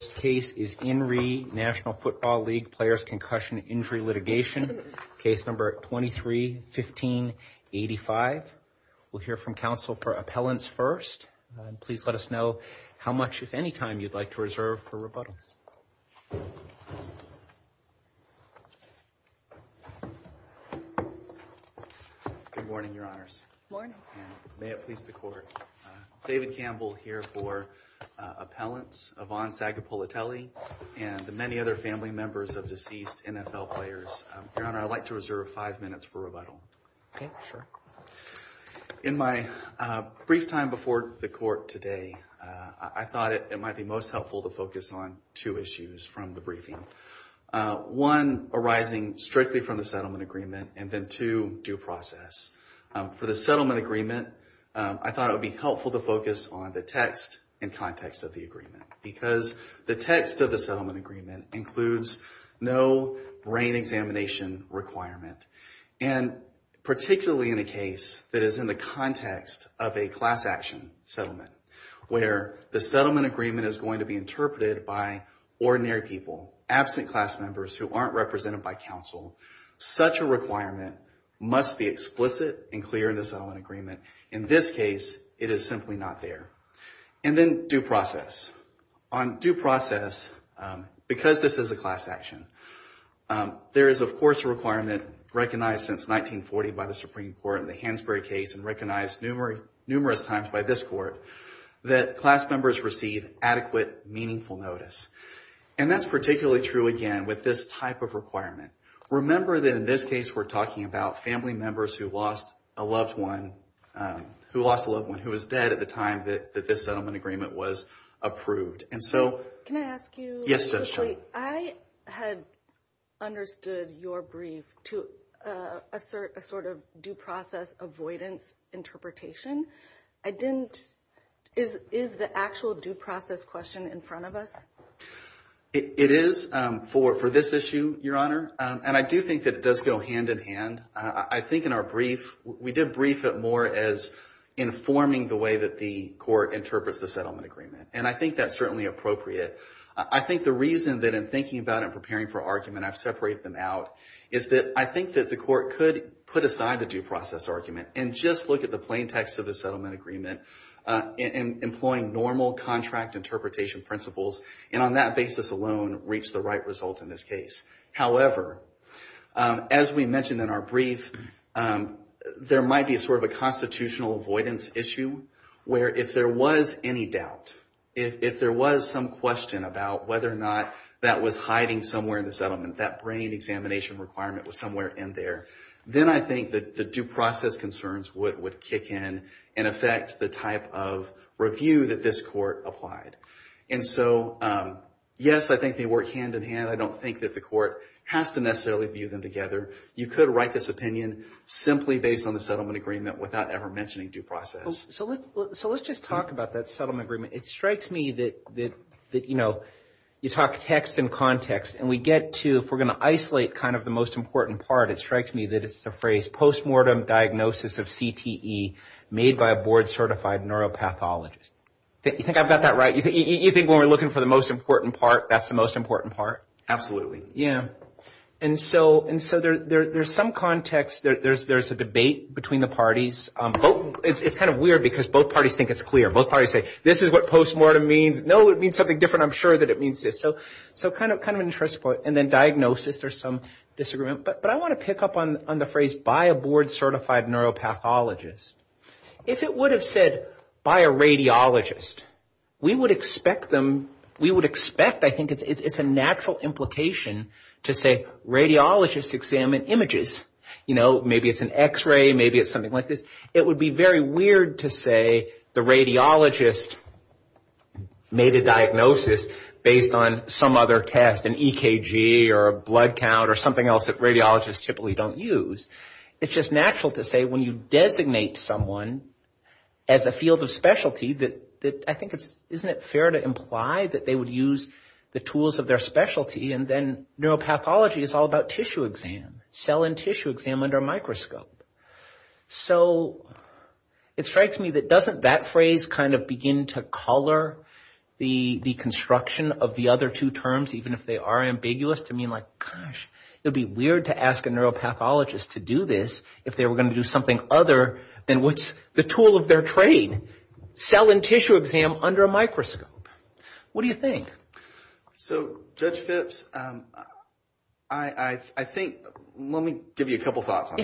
This case is In Re National Football League Players Concussion Injury Litigation, case number 23-15-85. We'll hear from counsel for appellants first. Please let us know how much, if any time, you'd like to reserve for rebuttals. Good morning, your honors. Good morning. May it please the court. David Campbell here for appellants, Yvonne Sagapolitelli, and the many other family members of deceased NFL players. Your honor, I'd like to reserve five minutes for rebuttal. In my brief time before the court today, I thought it might be most helpful to focus on two issues from the briefing. One arising strictly from the settlement agreement, and then two, due process. For the settlement agreement, I thought it would be helpful to focus on the text and context of the agreement, because the text of the settlement agreement includes no brain examination requirement. Particularly in a case that is in the context of a class action settlement, where the settlement agreement is going to be interpreted by ordinary people, absent class members who aren't represented by counsel, such a requirement must be explicit and clear in the settlement agreement. In this case, it is simply not there. And then due process. On due process, because this is a class action, there is, of course, a requirement recognized since 1940 by the Supreme Court in the Hansberry case, and recognized numerous times by this court, that class members receive adequate, meaningful notice. And that's particularly true, again, with this type of requirement. Remember that in this case, we're talking about family members who lost a loved one, who was dead at the time that this settlement agreement was approved. And so- Can I ask you- Yes, Judge. I had understood your brief to assert a sort of due process avoidance interpretation. I didn't- Is the actual due process question in front of us? It is for this issue, Your Honor. And I do think that it does go hand in hand. I think in our brief, we did brief it more as informing the way that the court interprets the settlement agreement. And I think that's certainly appropriate. I think the reason that in thinking about it and preparing for argument, I've separated them out, is that I think that the court could put aside the due process argument and just look at the plain text of the settlement agreement, employing normal contract interpretation principles, and on that basis alone, reach the right result in this case. However, as we mentioned in our brief, there might be a sort of a constitutional avoidance issue where if there was any doubt, if there was some question about whether or not that was hiding somewhere in the settlement, that brain examination requirement was somewhere in there, then I think that the due process concerns would kick in and affect the type of review that this court applied. And so, yes, I think they work hand in hand. I don't think that the court has to necessarily view them together. You could write this opinion simply based on the settlement agreement without ever mentioning due process. So let's just talk about that settlement agreement. It strikes me that, you know, you talk text and context, and we get to, if we're going to isolate kind of the most important part, it strikes me that it's the phrase, post-mortem diagnosis of CTE made by a board certified neuropathologist. You think I've got that right? You think when we're looking for the most important part, that's the most important part? Absolutely. Yeah. And so there's some context. There's a debate between the parties. It's kind of weird because both parties think it's clear. Both parties say, this is what post-mortem means. No, it means something different. I'm sure that it means this. So kind of an interesting point. And then diagnosis, there's some disagreement, but I want to pick up on the phrase by a board certified neuropathologist. If it would have said by a radiologist, we would expect them, we would expect, I think it's a natural implication to say radiologists examine images. You know, maybe it's an x-ray, maybe it's something like this. It would be very weird to say the radiologist made a diagnosis based on some other test, maybe it's an EKG or a blood count or something else that radiologists typically don't use. It's just natural to say when you designate someone as a field of specialty that I think it's, isn't it fair to imply that they would use the tools of their specialty and then neuropathology is all about tissue exam, cell and tissue exam under a microscope. So it strikes me that doesn't that phrase kind of begin to color the construction of the other two terms even if they are ambiguous to mean like, gosh, it would be weird to ask a neuropathologist to do this if they were going to do something other than what's the tool of their trade, cell and tissue exam under a microscope. What do you think? So Judge Phipps, I think, let me give you a couple of thoughts on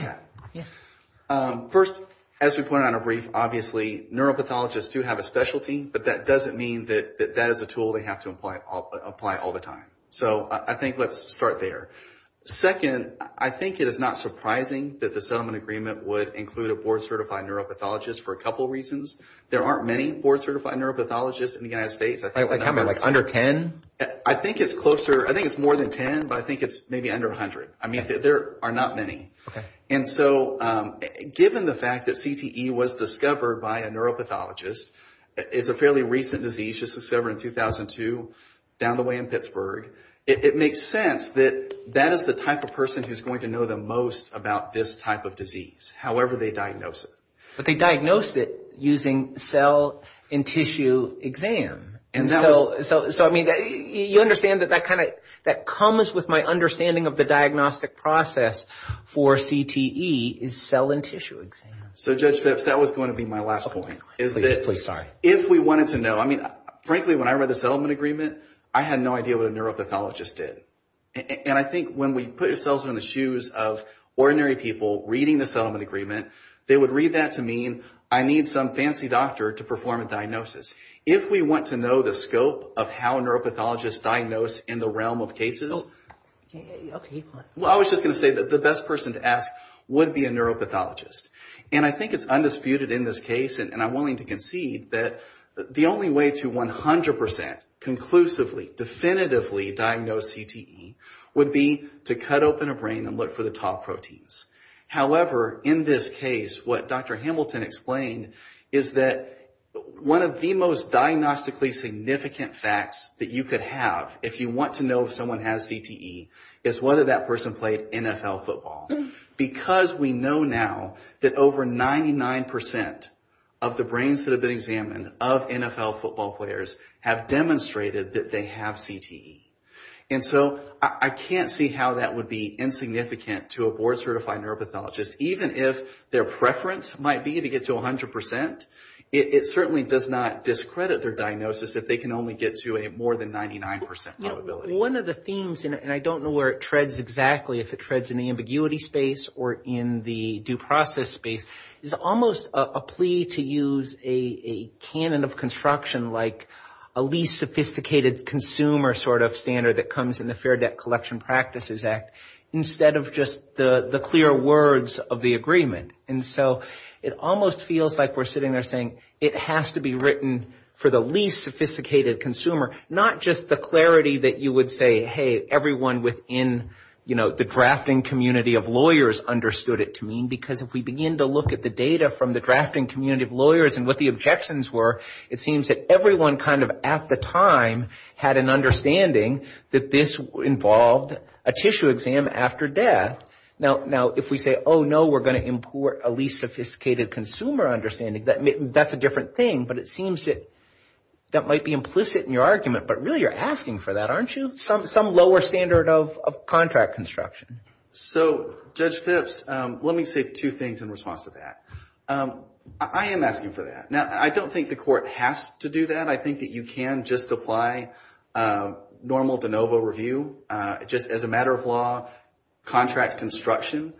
that. First as we pointed out on a brief, obviously neuropathologists do have a specialty, but that doesn't mean that that is a tool they have to apply all the time. So I think let's start there. Second, I think it is not surprising that the settlement agreement would include a board certified neuropathologist for a couple of reasons. There aren't many board certified neuropathologists in the United States. I think it's closer, I think it's more than 10, but I think it's maybe under 100. I mean there are not many. And so given the fact that CTE was discovered by a neuropathologist, it's a fairly recent disease, just discovered in 2002 down the way in Pittsburgh. It makes sense that that is the type of person who is going to know the most about this type of disease, however they diagnose it. But they diagnosed it using cell and tissue exam, so I mean you understand that that kind that comes with my understanding of the diagnostic process for CTE is cell and tissue exam. So Judge Phipps, that was going to be my last point. If we wanted to know, I mean frankly when I read the settlement agreement, I had no idea what a neuropathologist did. And I think when we put ourselves in the shoes of ordinary people reading the settlement agreement, they would read that to mean I need some fancy doctor to perform a diagnosis. If we want to know the scope of how neuropathologists diagnose in the realm of cases, I was just going to say that the best person to ask would be a neuropathologist. And I think it's undisputed in this case, and I'm willing to concede, that the only way to 100% conclusively, definitively diagnose CTE would be to cut open a brain and look for the top proteins. However, in this case, what Dr. Hamilton explained is that one of the most diagnostically significant facts that you could have if you want to know if someone has CTE is whether that person played NFL football. Because we know now that over 99% of the brains that have been examined of NFL football players have demonstrated that they have CTE. And so I can't see how that would be insignificant to a board-certified neuropathologist, even if their preference might be to get to 100%. It certainly does not discredit their diagnosis if they can only get to a more than 99% probability. One of the themes, and I don't know where it treads exactly, if it treads in the ambiguity space or in the due process space, is almost a plea to use a canon of construction like a least sophisticated consumer sort of standard that comes in the Fair Debt Collection Practices Act instead of just the clear words of the agreement. And so it almost feels like we're sitting there saying it has to be written for the least sophisticated consumer, not just the clarity that you would say, hey, everyone within the drafting community of lawyers understood it to mean. Because if we begin to look at the data from the drafting community of lawyers and what their projections were, it seems that everyone kind of at the time had an understanding that this involved a tissue exam after death. Now, if we say, oh, no, we're going to import a least sophisticated consumer understanding, that's a different thing. But it seems that that might be implicit in your argument. But really, you're asking for that, aren't you? Some lower standard of contract construction. So Judge Phipps, let me say two things in response to that. I am asking for that. Now, I don't think the court has to do that. I think that you can just apply normal de novo review, just as a matter of law, contract construction.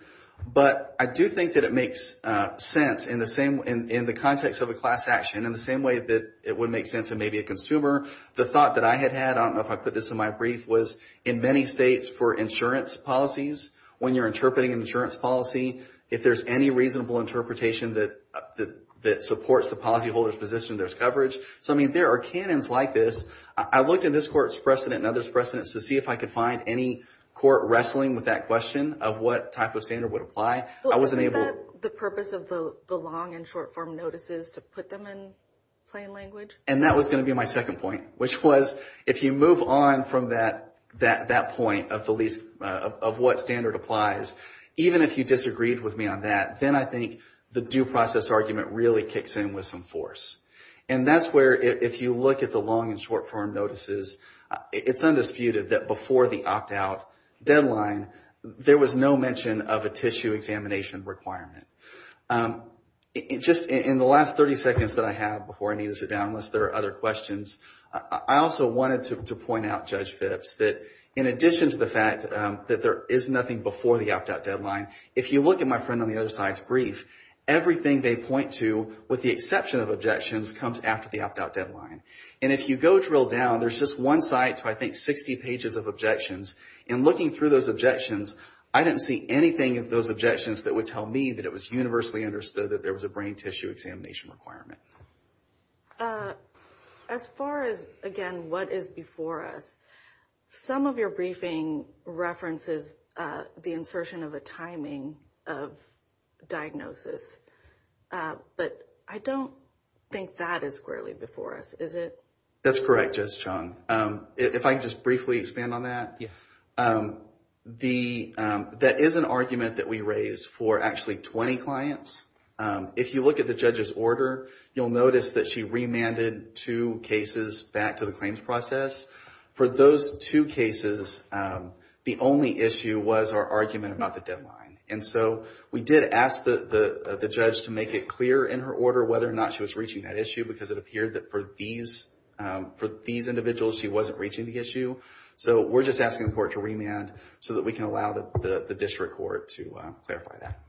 But I do think that it makes sense in the context of a class action, in the same way that it would make sense in maybe a consumer. The thought that I had had, I don't know if I put this in my brief, was in many states for insurance policies, when you're interpreting an insurance policy, if there's any reasonable interpretation that supports the policyholder's position, there's coverage. So I mean, there are canons like this. I looked at this court's precedent and others' precedents to see if I could find any court wrestling with that question of what type of standard would apply. I wasn't able... Isn't that the purpose of the long and short form notices, to put them in plain language? And that was going to be my second point, which was, if you move on from that point of what standard applies, even if you disagreed with me on that, then I think the due process argument really kicks in with some force. And that's where, if you look at the long and short form notices, it's undisputed that before the opt-out deadline, there was no mention of a tissue examination requirement. Just in the last 30 seconds that I have before I need to sit down, unless there are other questions, I also wanted to point out, Judge Phipps, that in addition to the fact that there is nothing before the opt-out deadline, if you look at my friend on the other side's brief, everything they point to, with the exception of objections, comes after the opt-out deadline. And if you go drill down, there's just one side to, I think, 60 pages of objections, and looking through those objections, I didn't see anything of those objections that would tell me that it was universally understood that there was a brain tissue examination requirement. As far as, again, what is before us, some of your briefing references the insertion of a timing of diagnosis, but I don't think that is squarely before us, is it? That's correct, Judge Chong. If I could just briefly expand on that. That is an argument that we raised for actually 20 clients. If you look at the judge's order, you'll notice that she remanded two cases back to the claims process. For those two cases, the only issue was our argument about the deadline. And so, we did ask the judge to make it clear in her order whether or not she was reaching that issue, because it appeared that for these individuals, she wasn't reaching the issue. So we're just asking the court to remand, so that we can allow the district court to clarify that.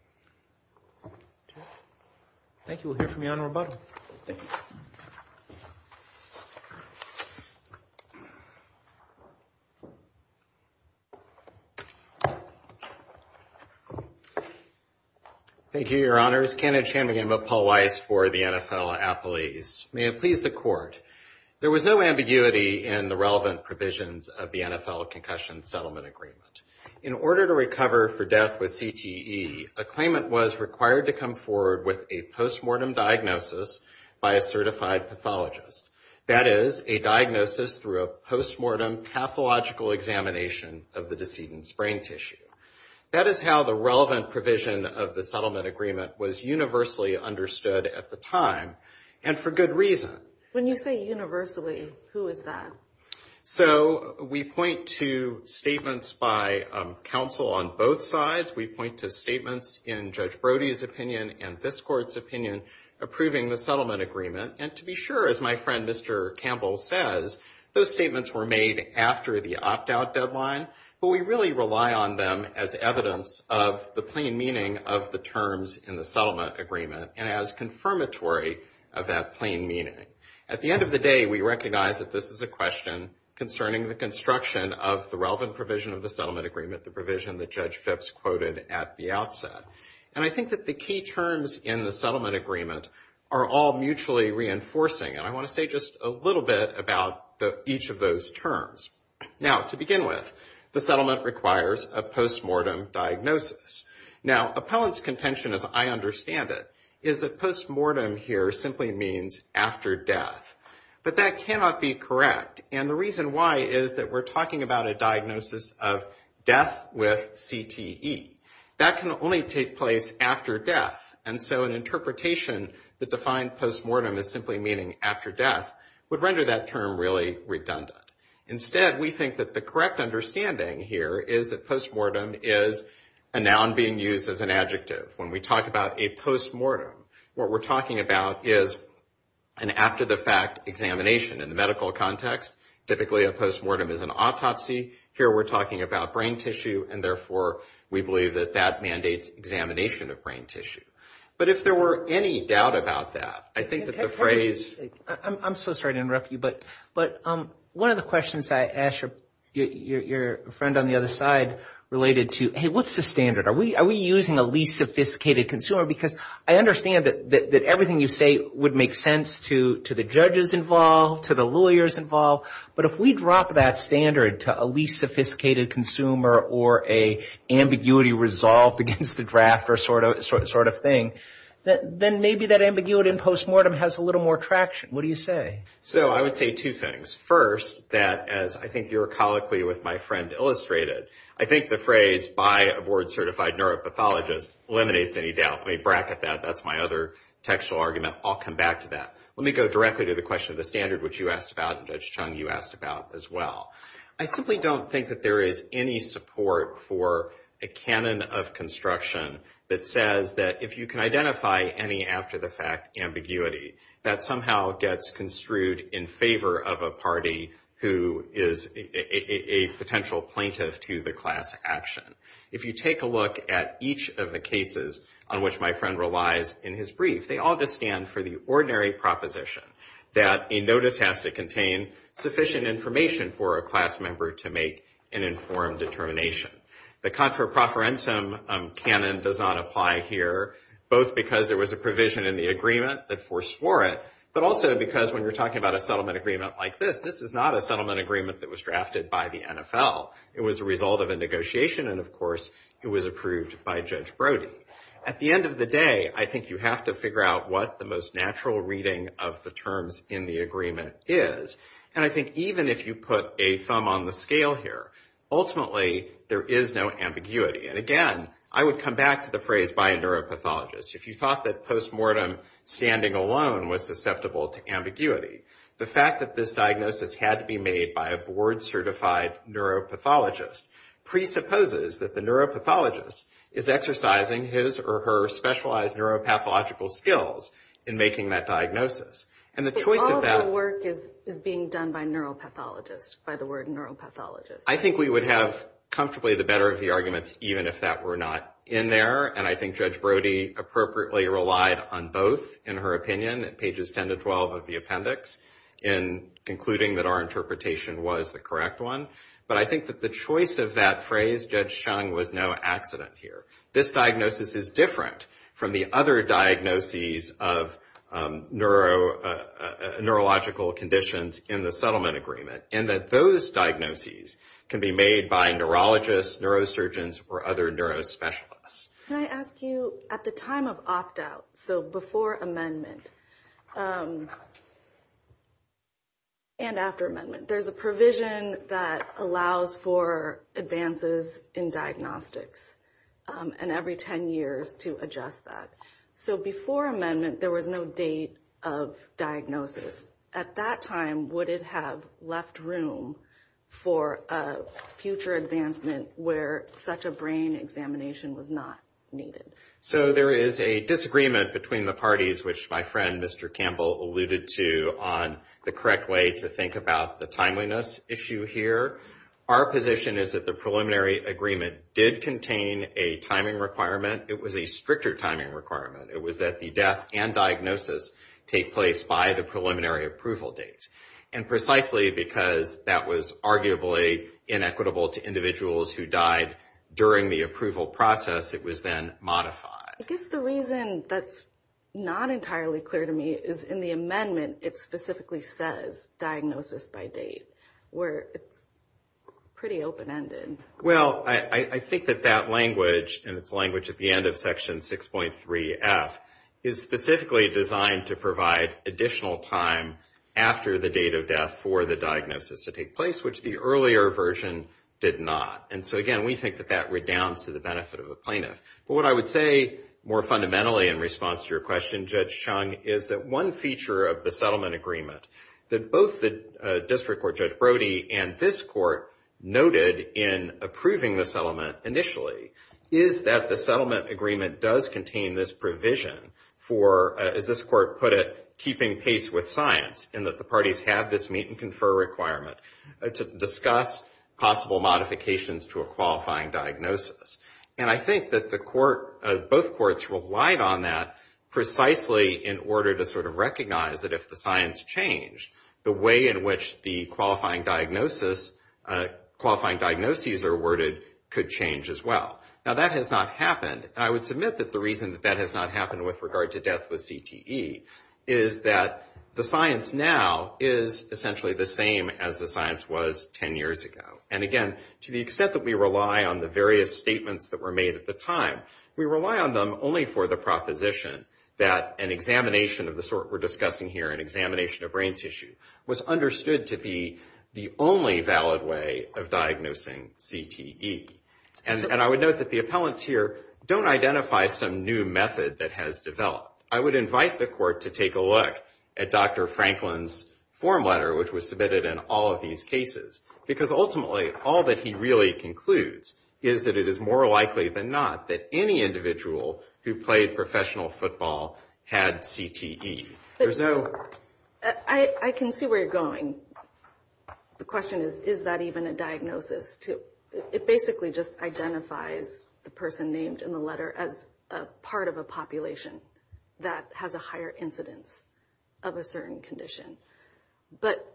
Thank you. We'll hear from Your Honor rebuttal. Thank you. Thank you, Your Honors. Kenneth Chambegin of Paul Weiss for the NFL Appellees. May it please the Court. There was no ambiguity in the relevant provisions of the NFL Concussion Settlement Agreement. In order to recover for death with CTE, a claimant was required to come forward with a postmortem diagnosis by a certified pathologist. That is, a diagnosis through a postmortem pathological examination of the decedent's brain tissue. That is how the relevant provision of the settlement agreement was universally understood at the time, and for good reason. When you say universally, who is that? So we point to statements by counsel on both sides. We point to statements in Judge Brody's opinion and this Court's opinion approving the settlement agreement. And to be sure, as my friend Mr. Campbell says, those statements were made after the opt-out deadline, but we really rely on them as evidence of the plain meaning of the terms in the settlement agreement, and as confirmatory of that plain meaning. At the end of the day, we recognize that this is a question concerning the construction of the relevant provision of the settlement agreement, the provision that Judge Phipps quoted at the outset. And I think that the key terms in the settlement agreement are all mutually reinforcing, and I want to say just a little bit about each of those terms. Now to begin with, the settlement requires a postmortem diagnosis. Now appellant's contention, as I understand it, is that postmortem here simply means after death, but that cannot be correct. And the reason why is that we're talking about a diagnosis of death with CTE. That can only take place after death, and so an interpretation that defined postmortem as simply meaning after death would render that term really redundant. Instead, we think that the correct understanding here is that postmortem is a noun being used as an adjective. When we talk about a postmortem, what we're talking about is an after-the-fact examination in the medical context. Typically, a postmortem is an autopsy. Here we're talking about brain tissue, and therefore, we believe that that mandates examination of brain tissue. But if there were any doubt about that, I think that the phrase... I'm so sorry to interrupt you, but one of the questions I asked your friend on the other side related to, hey, what's the standard? Are we using a least sophisticated consumer? Because I understand that everything you say would make sense to the judges involved, to the lawyers involved, but if we drop that standard to a least sophisticated consumer or a ambiguity resolved against the draft or sort of thing, then maybe that ambiguity in postmortem has a little more traction. What do you say? So I would say two things. First, that as I think your colloquy with my friend illustrated, I think the phrase by a board-certified neuropathologist eliminates any doubt. Let me bracket that. That's my other textual argument. I'll come back to that. Let me go directly to the question of the standard, which you asked about and Judge Chung, you asked about as well. I simply don't think that there is any support for a canon of construction that says that if you can identify any after-the-fact ambiguity, that somehow gets construed in favor of a party who is a potential plaintiff to the class action. If you take a look at each of the cases on which my friend relies in his brief, they all just stand for the ordinary proposition that a notice has to contain sufficient information for a class member to make an informed determination. The contra profferentum canon does not apply here, both because there was a provision in the agreement that foreswore it, but also because when you're talking about a settlement agreement like this, this is not a settlement agreement that was drafted by the NFL. It was a result of a negotiation, and of course, it was approved by Judge Brody. At the end of the day, I think you have to figure out what the most natural reading of the terms in the agreement is. And I think even if you put a thumb on the scale here, ultimately, there is no ambiguity. And again, I would come back to the phrase by a neuropathologist. If you thought that post-mortem standing alone was susceptible to ambiguity, the fact that this diagnosis had to be made by a board-certified neuropathologist presupposes that the neuropathologist is exercising his or her specialized neuropathological skills in making that diagnosis. And the choice of that... But all of the work is being done by neuropathologists, by the word neuropathologist. I think we would have comfortably the better of the arguments, even if that were not in there. And I think Judge Brody appropriately relied on both, in her opinion, at pages 10 to 12 of the appendix, in concluding that our interpretation was the correct one. But I think that the choice of that phrase, Judge Chung, was no accident here. This diagnosis is different from the other diagnoses of neurological conditions in the settlement agreement, in that those diagnoses can be made by neurologists, neurosurgeons, or other neurospecialists. Can I ask you, at the time of opt-out, so before amendment, and after amendment, there's a provision that allows for advances in diagnostics, and every 10 years to adjust that. So before amendment, there was no date of diagnosis. At that time, would it have left room for a future advancement where such a brain examination was not needed? So there is a disagreement between the parties, which my friend, Mr. Campbell, alluded to on the correct way to think about the timeliness issue here. Our position is that the preliminary agreement did contain a timing requirement. It was a stricter timing requirement. It was that the death and diagnosis take place by the preliminary approval date. And precisely because that was arguably inequitable to individuals who died during the approval process, it was then modified. I guess the reason that's not entirely clear to me is in the amendment, it specifically says diagnosis by date, where it's pretty open-ended. Well, I think that that language, and it's language at the end of Section 6.3F, is specifically designed to provide additional time after the date of death for the diagnosis to take place, which the earlier version did not. And so again, we think that that redounds to the benefit of a plaintiff. But what I would say more fundamentally in response to your question, Judge Chung, is that one feature of the settlement agreement that both the District Court Judge Brody and this Court noted in approving the settlement initially is that the settlement agreement does contain this provision for, as this Court put it, keeping pace with science, and that the parties have this meet-and-confer requirement to discuss possible modifications to a qualifying diagnosis. And I think that both courts relied on that precisely in order to sort of recognize that if the science changed, the way in which the qualifying diagnoses are worded could change as well. Now, that has not happened, and I would submit that the reason that that has not happened with regard to death with CTE is that the science now is essentially the same as the science was 10 years ago. And again, to the extent that we rely on the various statements that were made at the time, we rely on them only for the proposition that an examination of the sort we're discussing here, an examination of brain tissue, was understood to be the only valid way of diagnosing CTE. And I would note that the appellants here don't identify some new method that has developed. I would invite the Court to take a look at Dr. Franklin's form letter, which was submitted in all of these cases, because ultimately, all that he really concludes is that it is more likely than not that any individual who played professional football had CTE. I can see where you're going. The question is, is that even a diagnosis? It basically just identifies the person named in the letter as a part of a population that has a higher incidence of a certain condition. But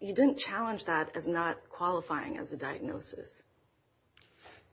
you didn't challenge that as not qualifying as a diagnosis.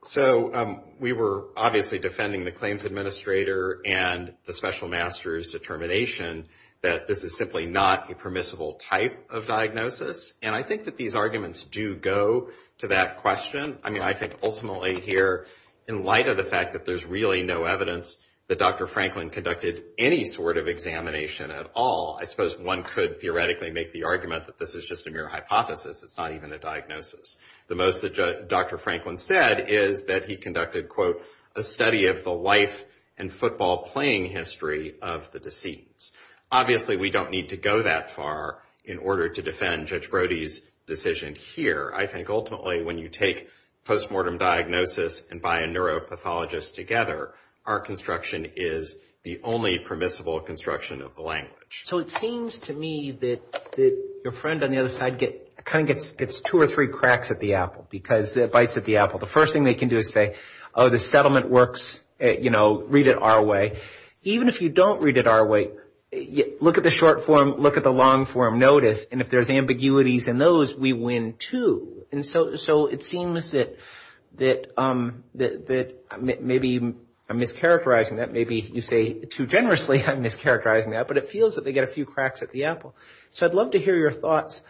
So we were obviously defending the claims administrator and the special master's determination that this is simply not a permissible type of diagnosis. And I think that these arguments do go to that question. I mean, I think ultimately here, in light of the fact that there's really no evidence that Dr. Franklin conducted any sort of examination at all, I suppose one could theoretically make the argument that this is just a mere hypothesis. It's not even a diagnosis. The most that Dr. Franklin said is that he conducted, quote, a study of the life and football playing history of the decedents. Obviously, we don't need to go that far in order to defend Judge Brody's decision here. I think ultimately, when you take postmortem diagnosis and buy a neuropathologist together, our construction is the only permissible construction of the language. So it seems to me that your friend on the other side kind of gets two or three cracks at the apple because it bites at the apple. The first thing they can do is say, oh, the settlement works, you know, read it our way. Even if you don't read it our way, look at the short form, look at the long form, notice. And if there's ambiguities in those, we win too. So it seems that maybe I'm mischaracterizing that. Maybe you say too generously I'm mischaracterizing that. But it feels that they get a few cracks at the apple. So I'd love to hear your thoughts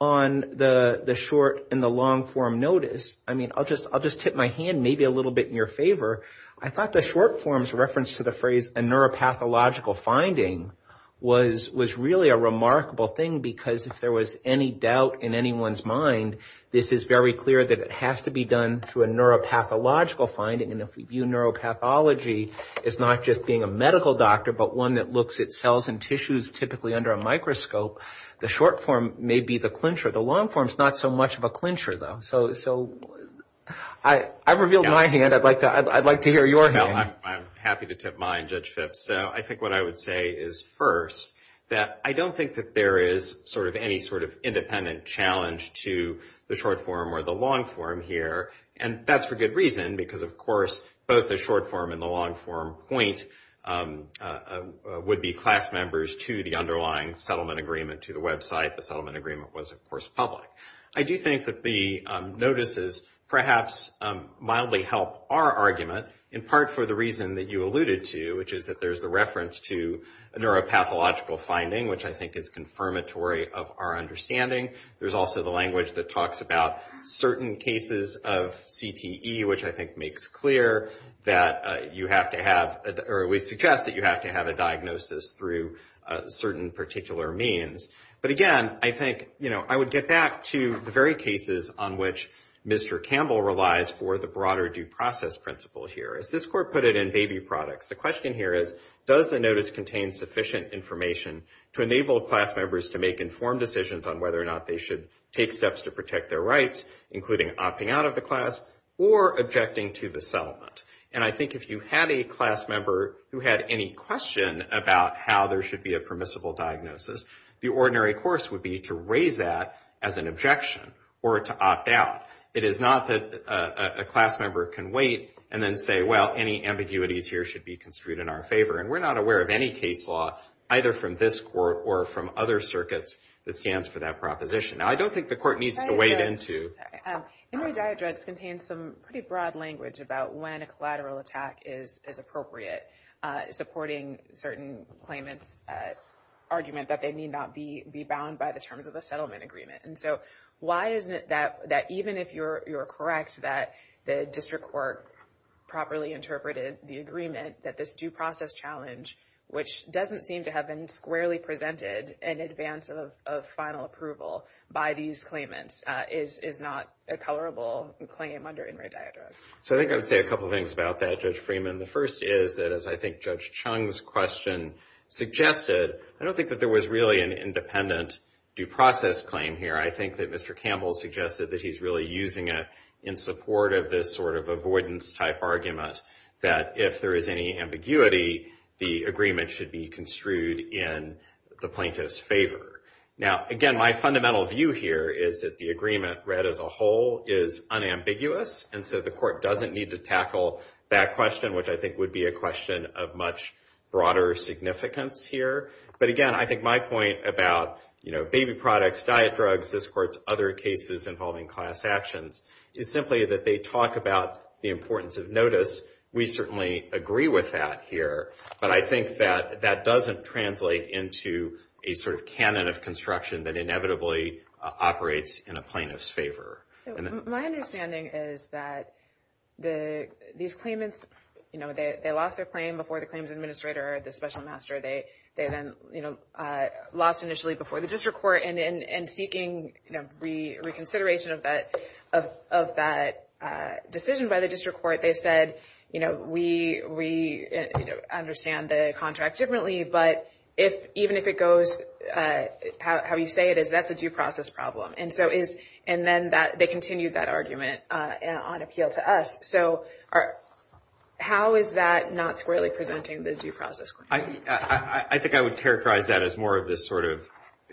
on the short and the long form notice. I mean, I'll just tip my hand maybe a little bit in your favor. I thought the short form's reference to the phrase a neuropathological finding was really a remarkable thing because if there was any doubt in anyone's mind, this is very clear that it has to be done through a neuropathological finding. And if we view neuropathology as not just being a medical doctor, but one that looks at cells and tissues typically under a microscope, the short form may be the clincher. The long form's not so much of a clincher, though. So I've revealed my hand. I'd like to hear your hand. I'm happy to tip mine, Judge Phipps. So I think what I would say is first that I don't think that there is any sort of independent challenge to the short form or the long form here. And that's for good reason because, of course, both the short form and the long form point would be class members to the underlying settlement agreement to the website. The settlement agreement was, of course, public. I do think that the notices perhaps mildly help our argument, in part for the reason that you alluded to, which is that there's the reference to a neuropathological finding, which I think is confirmatory of our understanding. There's also the language that talks about certain cases of CTE, which I think makes clear that you have to have, or we suggest that you have to have a diagnosis through certain particular means. But again, I think I would get back to the very cases on which Mr. Campbell relies for the broader due process principle here. As this court put it in baby products, the question here is, does the notice contain sufficient information to enable class members to make informed decisions on whether or not they should take steps to protect their rights, including opting out of the class or objecting to the settlement? And I think if you had a class member who had any question about how there should be a permissible diagnosis, the ordinary course would be to raise that as an objection or to opt out. It is not that a class member can wait and then say, well, any ambiguities here should be construed in our favor. And we're not aware of any case law, either from this court or from other circuits, that stands for that proposition. Now, I don't think the court needs to wade into... Sorry, Henry Diodrex contains some pretty broad language about when a collateral attack is appropriate, supporting certain claimants' argument that they need not be bound by the terms of the settlement agreement. And so why isn't it that even if you're correct that the district court properly interpreted the agreement, that this due process challenge, which doesn't seem to have been squarely presented in advance of final approval by these claimants, is not a tolerable claim under Henry Diodrex? So I think I would say a couple of things about that, Judge Freeman. The first is that, as I think Judge Chung's question suggested, I don't think that there was really an independent due process claim here. I think that Mr. Campbell suggested that he's really using it in support of this sort of avoidance-type argument that if there is any ambiguity, the agreement should be construed in the plaintiff's favor. Now, again, my fundamental view here is that the agreement read as a whole is unambiguous. And so the court doesn't need to tackle that question, which I think would be a question of much broader significance here. But again, I think my point about baby products, diet drugs, this court's other cases involving class actions, is simply that they talk about the importance of notice. We certainly agree with that here. But I think that that doesn't translate into a sort of canon of construction that inevitably operates in a plaintiff's favor. My understanding is that these claimants, they lost their claim before the claims administrator or the special master. They then lost initially before the district court. And in seeking reconsideration of that decision by the district court, they said, we understand the contract differently. But even if it goes how you say it is, that's a due process problem. And so is and then that they continued that argument on appeal to us. So how is that not squarely presenting the due process? I think I would characterize that as more of this sort of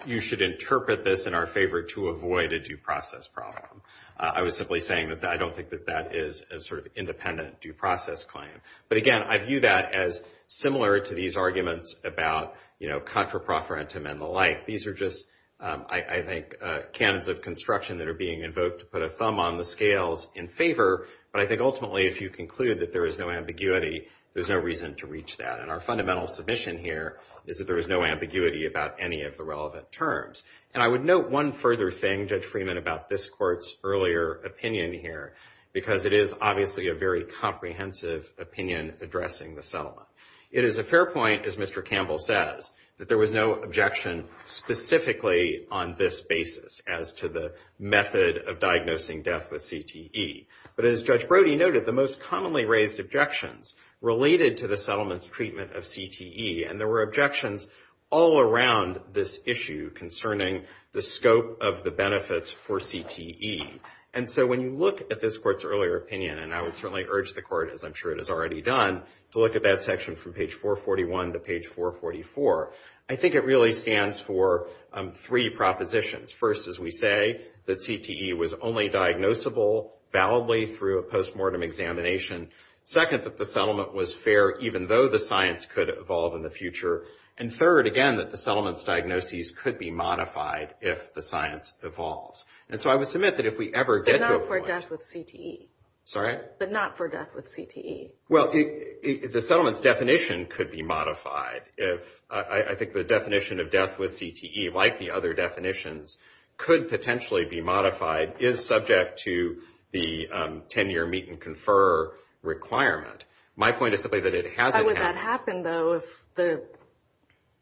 you should interpret this in our favor to avoid a due process problem. I was simply saying that I don't think that that is a sort of independent due process claim. But again, I view that as similar to these arguments about, you know, contraproferentum and the like. These are just, I think, canons of construction that are being invoked to put a thumb on the scales in favor. But I think ultimately, if you conclude that there is no ambiguity, there's no reason to reach that. And our fundamental submission here is that there is no ambiguity about any of the relevant terms. And I would note one further thing, Judge Freeman, about this court's earlier opinion here, because it is obviously a very comprehensive opinion addressing the settlement. It is a fair point, as Mr. Campbell says, that there was no objection specifically on this basis as to the method of diagnosing death with CTE. But as Judge Brody noted, the most commonly raised objections related to the settlement's treatment of CTE. And there were objections all around this issue concerning the scope of the benefits for CTE. And so when you look at this court's earlier opinion, and I would certainly urge the court, as I'm sure it has already done, to look at that section from page 441 to page 444, I think it really stands for three propositions. First, as we say, that CTE was only diagnosable validly through a post-mortem examination. Second, that the settlement was fair even though the science could evolve in the future. And third, again, that the settlement's diagnoses could be modified if the science evolves. And so I would submit that if we ever get to a point— But not for death with CTE. Sorry? But not for death with CTE. Well, the settlement's definition could be modified if— I think the definition of death with CTE, like the other definitions, could potentially be modified, is subject to the 10-year meet-and-confer requirement. My point is simply that it hasn't happened. But would that happen, though,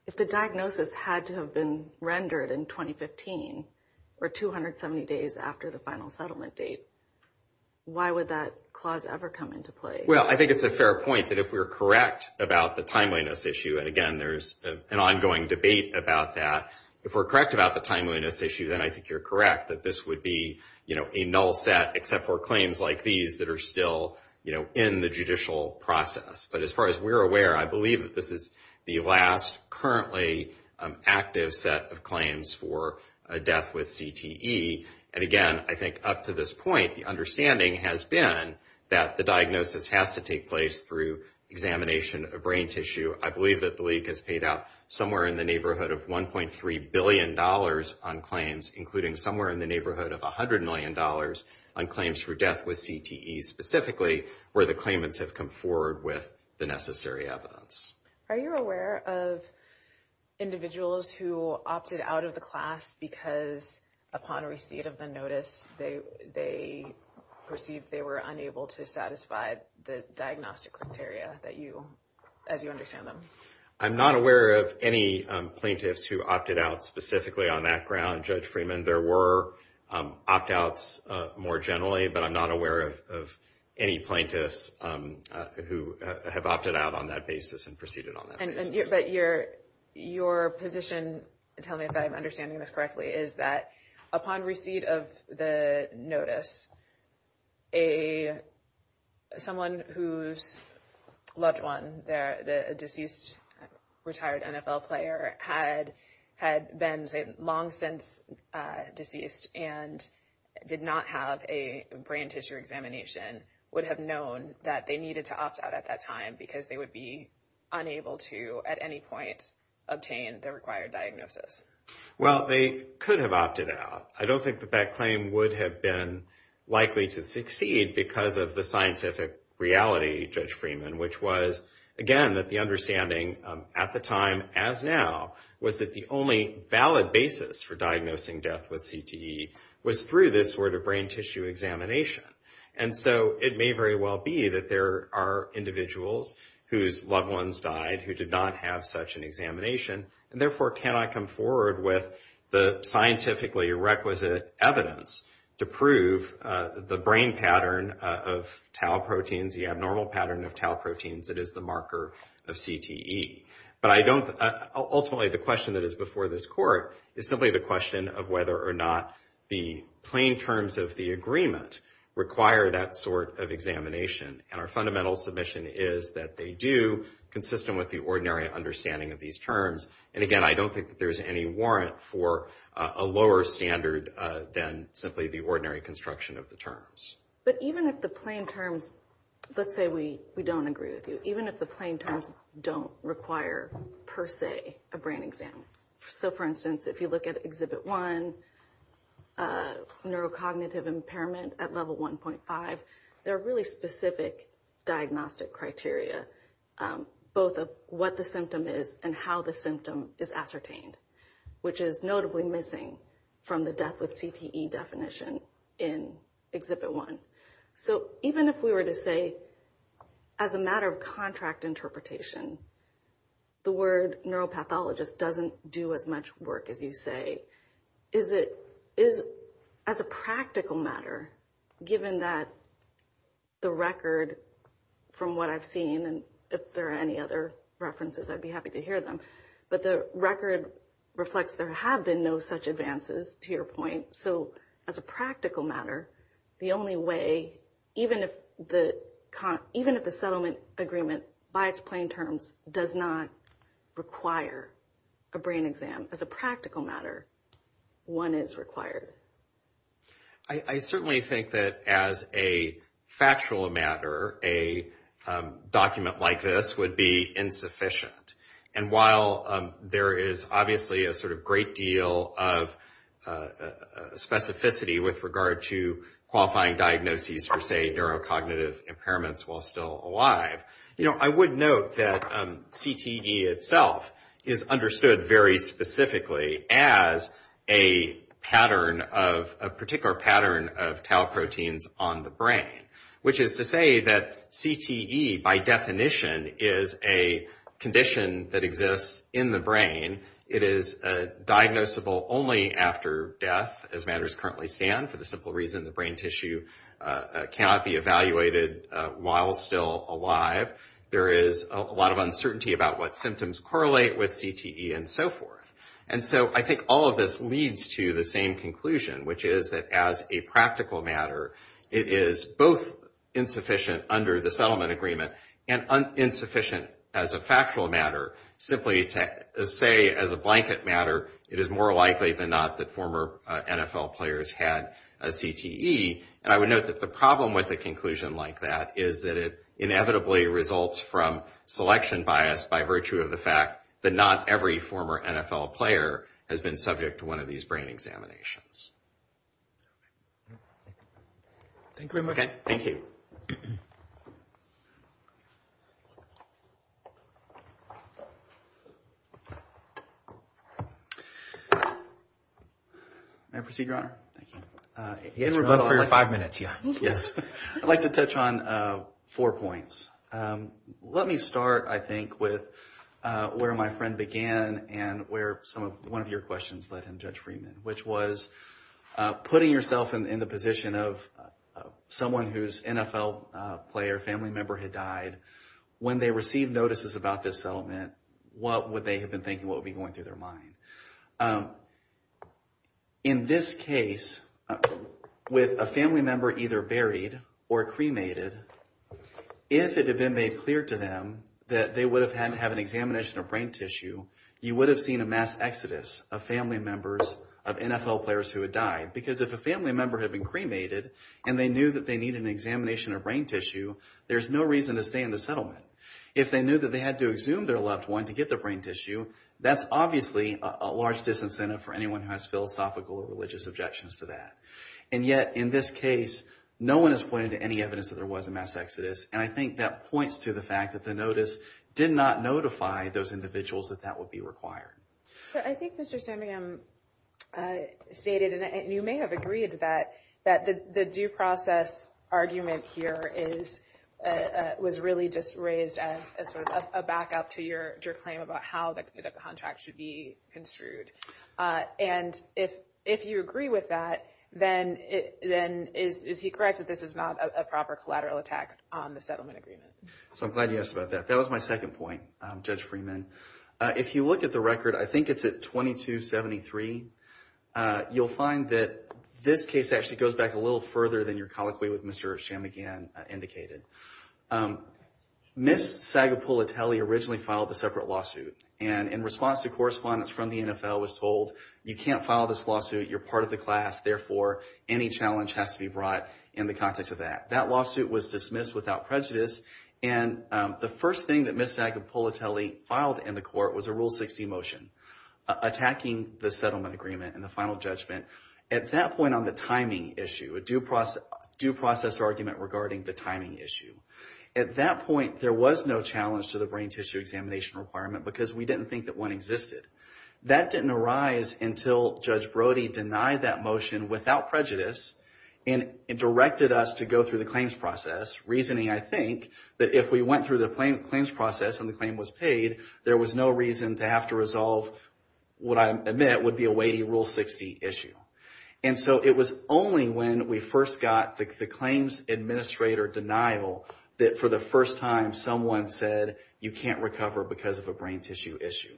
if the diagnosis had to have been rendered in 2015, or 270 days after the final settlement date? Why would that clause ever come into play? Well, I think it's a fair point that if we're correct about the timeliness issue— and again, there's an ongoing debate about that— if we're correct about the timeliness issue, then I think you're correct, that this would be a null set except for claims like these that are still in the judicial process. But as far as we're aware, I believe that this is the last currently active set of claims for a death with CTE. And again, I think up to this point, the understanding has been that the diagnosis has to take place through examination of brain tissue. I believe that the league has paid out somewhere in the neighborhood of $1.3 billion on claims, including somewhere in the neighborhood of $100 million on claims for death with CTE specifically, where the claimants have come forward with the necessary evidence. Are you aware of individuals who opted out of the class because upon receipt of the notice, they perceived they were unable to satisfy the diagnostic criteria as you understand them? I'm not aware of any plaintiffs who opted out specifically on that ground, Judge Freeman. There were opt-outs more generally, but I'm not aware of any plaintiffs who have opted out on that basis and proceeded on that basis. But your position, tell me if I'm understanding this correctly, is that upon receipt of the notice, someone whose loved one, the deceased retired NFL player, had been long since deceased and did not have a brain tissue examination, would have known that they needed to opt out at that time because they would be unable to at any point obtain the required diagnosis? Well, they could have opted out. I don't think that that claim would have been likely to succeed because of the scientific reality, Judge Freeman, which was, again, that the understanding at the time as now was that the only valid basis for diagnosing death with CTE was through this sort of brain tissue examination. And so it may very well be that there are individuals whose loved ones died who did not have such an examination, and therefore cannot come forward with the scientifically requisite evidence to prove the brain pattern of tau proteins, the abnormal pattern of tau proteins that is the marker of CTE. But ultimately, the question that is before this Court is simply the question of whether or not the plain terms of the agreement require that sort of examination. And our fundamental submission is that they do, consistent with the ordinary understanding of these terms. And again, I don't think that there's any warrant for a lower standard than simply the ordinary construction of the terms. But even if the plain terms, let's say we don't agree with you, even if the plain terms don't require, per se, a brain exam, so for instance, if you look at Exhibit 1, neurocognitive impairment at level 1.5, there are really specific diagnostic criteria, both of what the symptom is and how the symptom is ascertained, which is notably missing from the death with CTE definition in Exhibit 1. So even if we were to say, as a matter of contract interpretation, the word neuropathologist doesn't do as much work as you say, is it, as a practical matter, given that the record from what I've seen, and if there are any other references, I'd be happy to hear them, but the record reflects there have been no such advances, to your point. So as a practical matter, the only way, even if the settlement agreement, by its plain terms, does not require a brain exam, as a practical matter, one is required. I certainly think that as a factual matter, a document like this would be insufficient. And while there is obviously a sort of great deal of specificity with regard to qualifying diagnoses for, say, neurocognitive impairments while still alive, I would note that CTE itself is understood very specifically as a particular pattern of tau proteins on the brain, which is to say that CTE, by definition, is a condition that exists in the brain. It is diagnosable only after death, as matters currently stand, for the simple reason the brain tissue cannot be evaluated while still alive. There is a lot of uncertainty about what symptoms correlate with CTE and so forth. And so I think all of this leads to the same conclusion, which is that as a practical matter, it is both insufficient under the settlement agreement and insufficient as a factual matter, simply to say as a blanket matter, it is more likely than not that former NFL players had a CTE. And I would note that the problem with a conclusion like that is that it inevitably results from selection bias by virtue of the fact that not every former NFL player has been subject to one of these brain examinations. Thank you. Thank you. May I proceed, Your Honor? Thank you. Yes, we're good for your five minutes, yeah, yes. I'd like to touch on four points. Let me start, I think, with where my friend began and where one of your questions led him, Judge Freeman, which was putting yourself in the position of someone whose NFL player, family member, had died. When they received notices about this settlement, what would they have been thinking, what would be going through their mind? In this case, with a family member either buried or cremated, if it had been made clear to them that they would have had to have an examination of brain tissue, you would have seen a mass exodus of family members of NFL players who had died. Because if a family member had been cremated and they knew that they needed an examination of brain tissue, there's no reason to stay in the settlement. If they knew that they had to exhume their loved one to get their brain tissue, that's obviously a large disincentive for anyone who has philosophical or religious objections to that. And yet, in this case, no one has pointed to any evidence that there was a mass exodus, and I think that points to the fact that the notice did not notify those individuals that that would be required. But I think Mr. Sandringham stated, and you may have agreed to that, that the due process argument here was really just raised as a backup to your claim about how the contract should be construed. And if you agree with that, then is he correct that this is not a proper collateral attack on the settlement agreement? So I'm glad you asked about that. That was my second point, Judge Freeman. If you look at the record, I think it's at 2273, you'll find that this case actually goes back a little further than your colloquy with Mr. Chamagian indicated. Ms. Sagapulitelli originally filed a separate lawsuit, and in response to correspondence from the NFL, was told, you can't file this lawsuit, you're part of the class, therefore any challenge has to be brought in the context of that. That lawsuit was dismissed without prejudice, and the first thing that Ms. Sagapulitelli filed in the court was a Rule 60 motion, attacking the settlement agreement and the final judgment. At that point on the timing issue, a due process argument regarding the timing issue. At that point, there was no challenge to the brain tissue examination requirement, because we didn't think that one existed. That didn't arise until Judge Brody denied that motion without prejudice, and directed us to go through the claims process, reasoning, I think, that if we went through the claims process and the claim was paid, there was no reason to have to resolve what I admit would be a weighty Rule 60 issue. And so it was only when we first got the claims administrator denial, that for the first time someone said, you can't recover because of a brain tissue issue.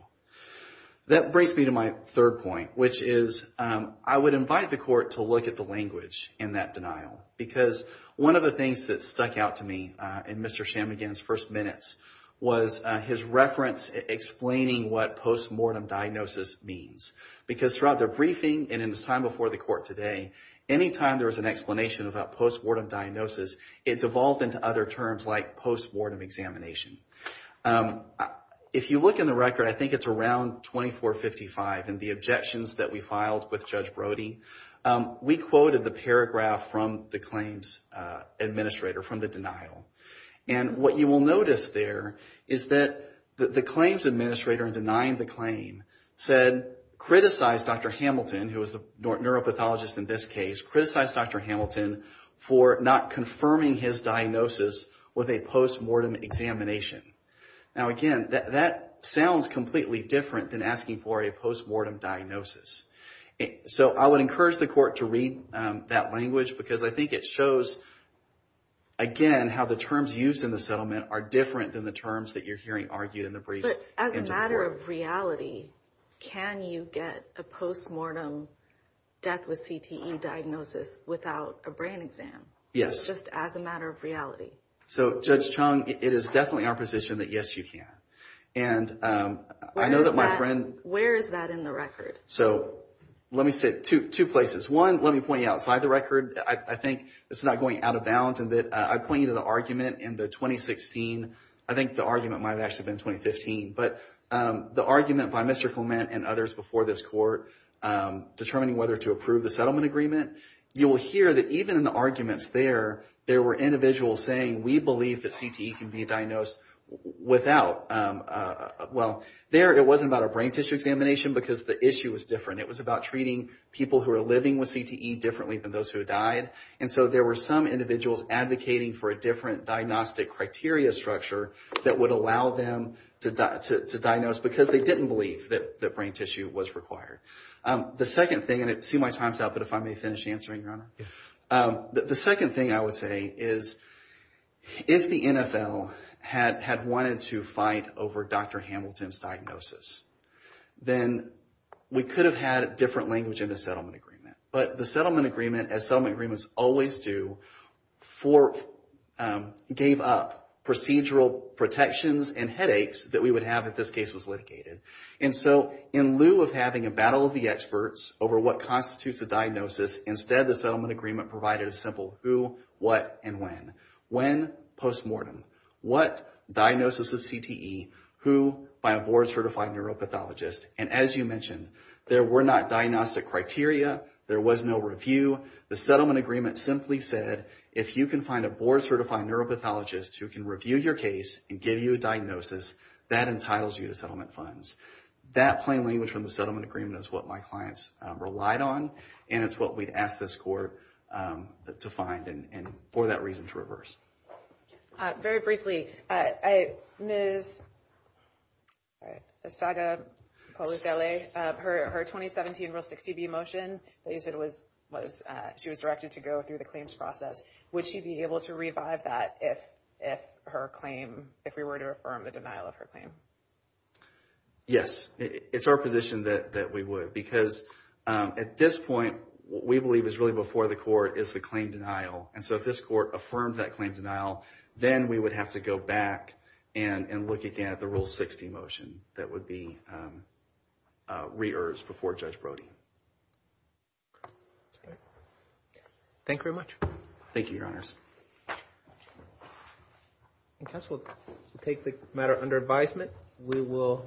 That brings me to my third point, which is, I would invite the court to look at the language in that denial. Because one of the things that stuck out to me in Mr. Chamagian's first minutes, was his reference explaining what post-mortem diagnosis means. Because throughout the briefing, and in his time before the court today, anytime there was an explanation about post-mortem diagnosis, it devolved into other terms like post-mortem examination. If you look in the record, I think it's around 2455, in the objections that we filed with Judge Brody, we quoted the paragraph from the claims administrator, from the denial. And what you will notice there, is that the claims administrator in denying the claim, said, criticize Dr. Hamilton, who was the neuropathologist in this case, criticize Dr. Hamilton for not confirming his diagnosis with a post-mortem examination. Now again, that sounds completely different than asking for a post-mortem diagnosis. So I would encourage the court to read that language, because I think it shows, again, how the terms used in the settlement are different than the terms that you're hearing argued in the briefs. But as a matter of reality, can you get a post-mortem death with CTE diagnosis without a brain exam? Yes. Just as a matter of reality. So Judge Chung, it is definitely our position that yes, you can. And I know that my friend. Where is that in the record? So, let me say, two places. One, let me point you outside the record. I think it's not going out of bounds, and I point you to the argument in the 2016, I think the argument might have actually been 2015, but the argument by Mr. Clement and others before this court determining whether to approve the settlement agreement. You will hear that even in the arguments there, there were individuals saying, we believe that CTE can be diagnosed without, well, there it wasn't about a brain tissue examination, because the issue was different. It was about treating people who are living with CTE differently than those who died. And so there were some individuals advocating for a different diagnostic criteria structure that would allow them to diagnose, because they didn't believe that brain tissue was required. The second thing, and see my time's up, but if I may finish answering, Your Honor. The second thing I would say is, if the NFL had wanted to fight over Dr. Hamilton's diagnosis, then we could have had different language in the settlement agreement. But the settlement agreement, as settlement agreements always do, gave up procedural protections and headaches that we would have if this case was litigated. And so in lieu of having a battle of the experts over what constitutes a diagnosis, instead the settlement agreement provided a simple who, what, and when. When, post-mortem. What, diagnosis of CTE. Who, by a board-certified neuropathologist. And as you mentioned, there were not diagnostic criteria, there was no review. The settlement agreement simply said, if you can find a board-certified neuropathologist who can review your case and give you a diagnosis, that entitles you to settlement funds. That plain language from the settlement agreement is what my clients relied on, and it's what we'd ask this court to find, and for that reason to reverse. Very briefly, Ms. Asaga Polizelli, her 2017 Rule 60B motion that you said was, she was directed to go through the claims process. Would she be able to revive that if her claim, if we were to affirm the denial of her claim? Yes, it's our position that we would, because at this point, what we believe is really before the court is the claim denial. And so if this court affirmed that claim denial, then we would have to go back and look again at the Rule 60 motion that would be re-ersed before Judge Brody. Thank you very much. Thank you, Your Honors. I guess we'll take the matter under advisement. We will.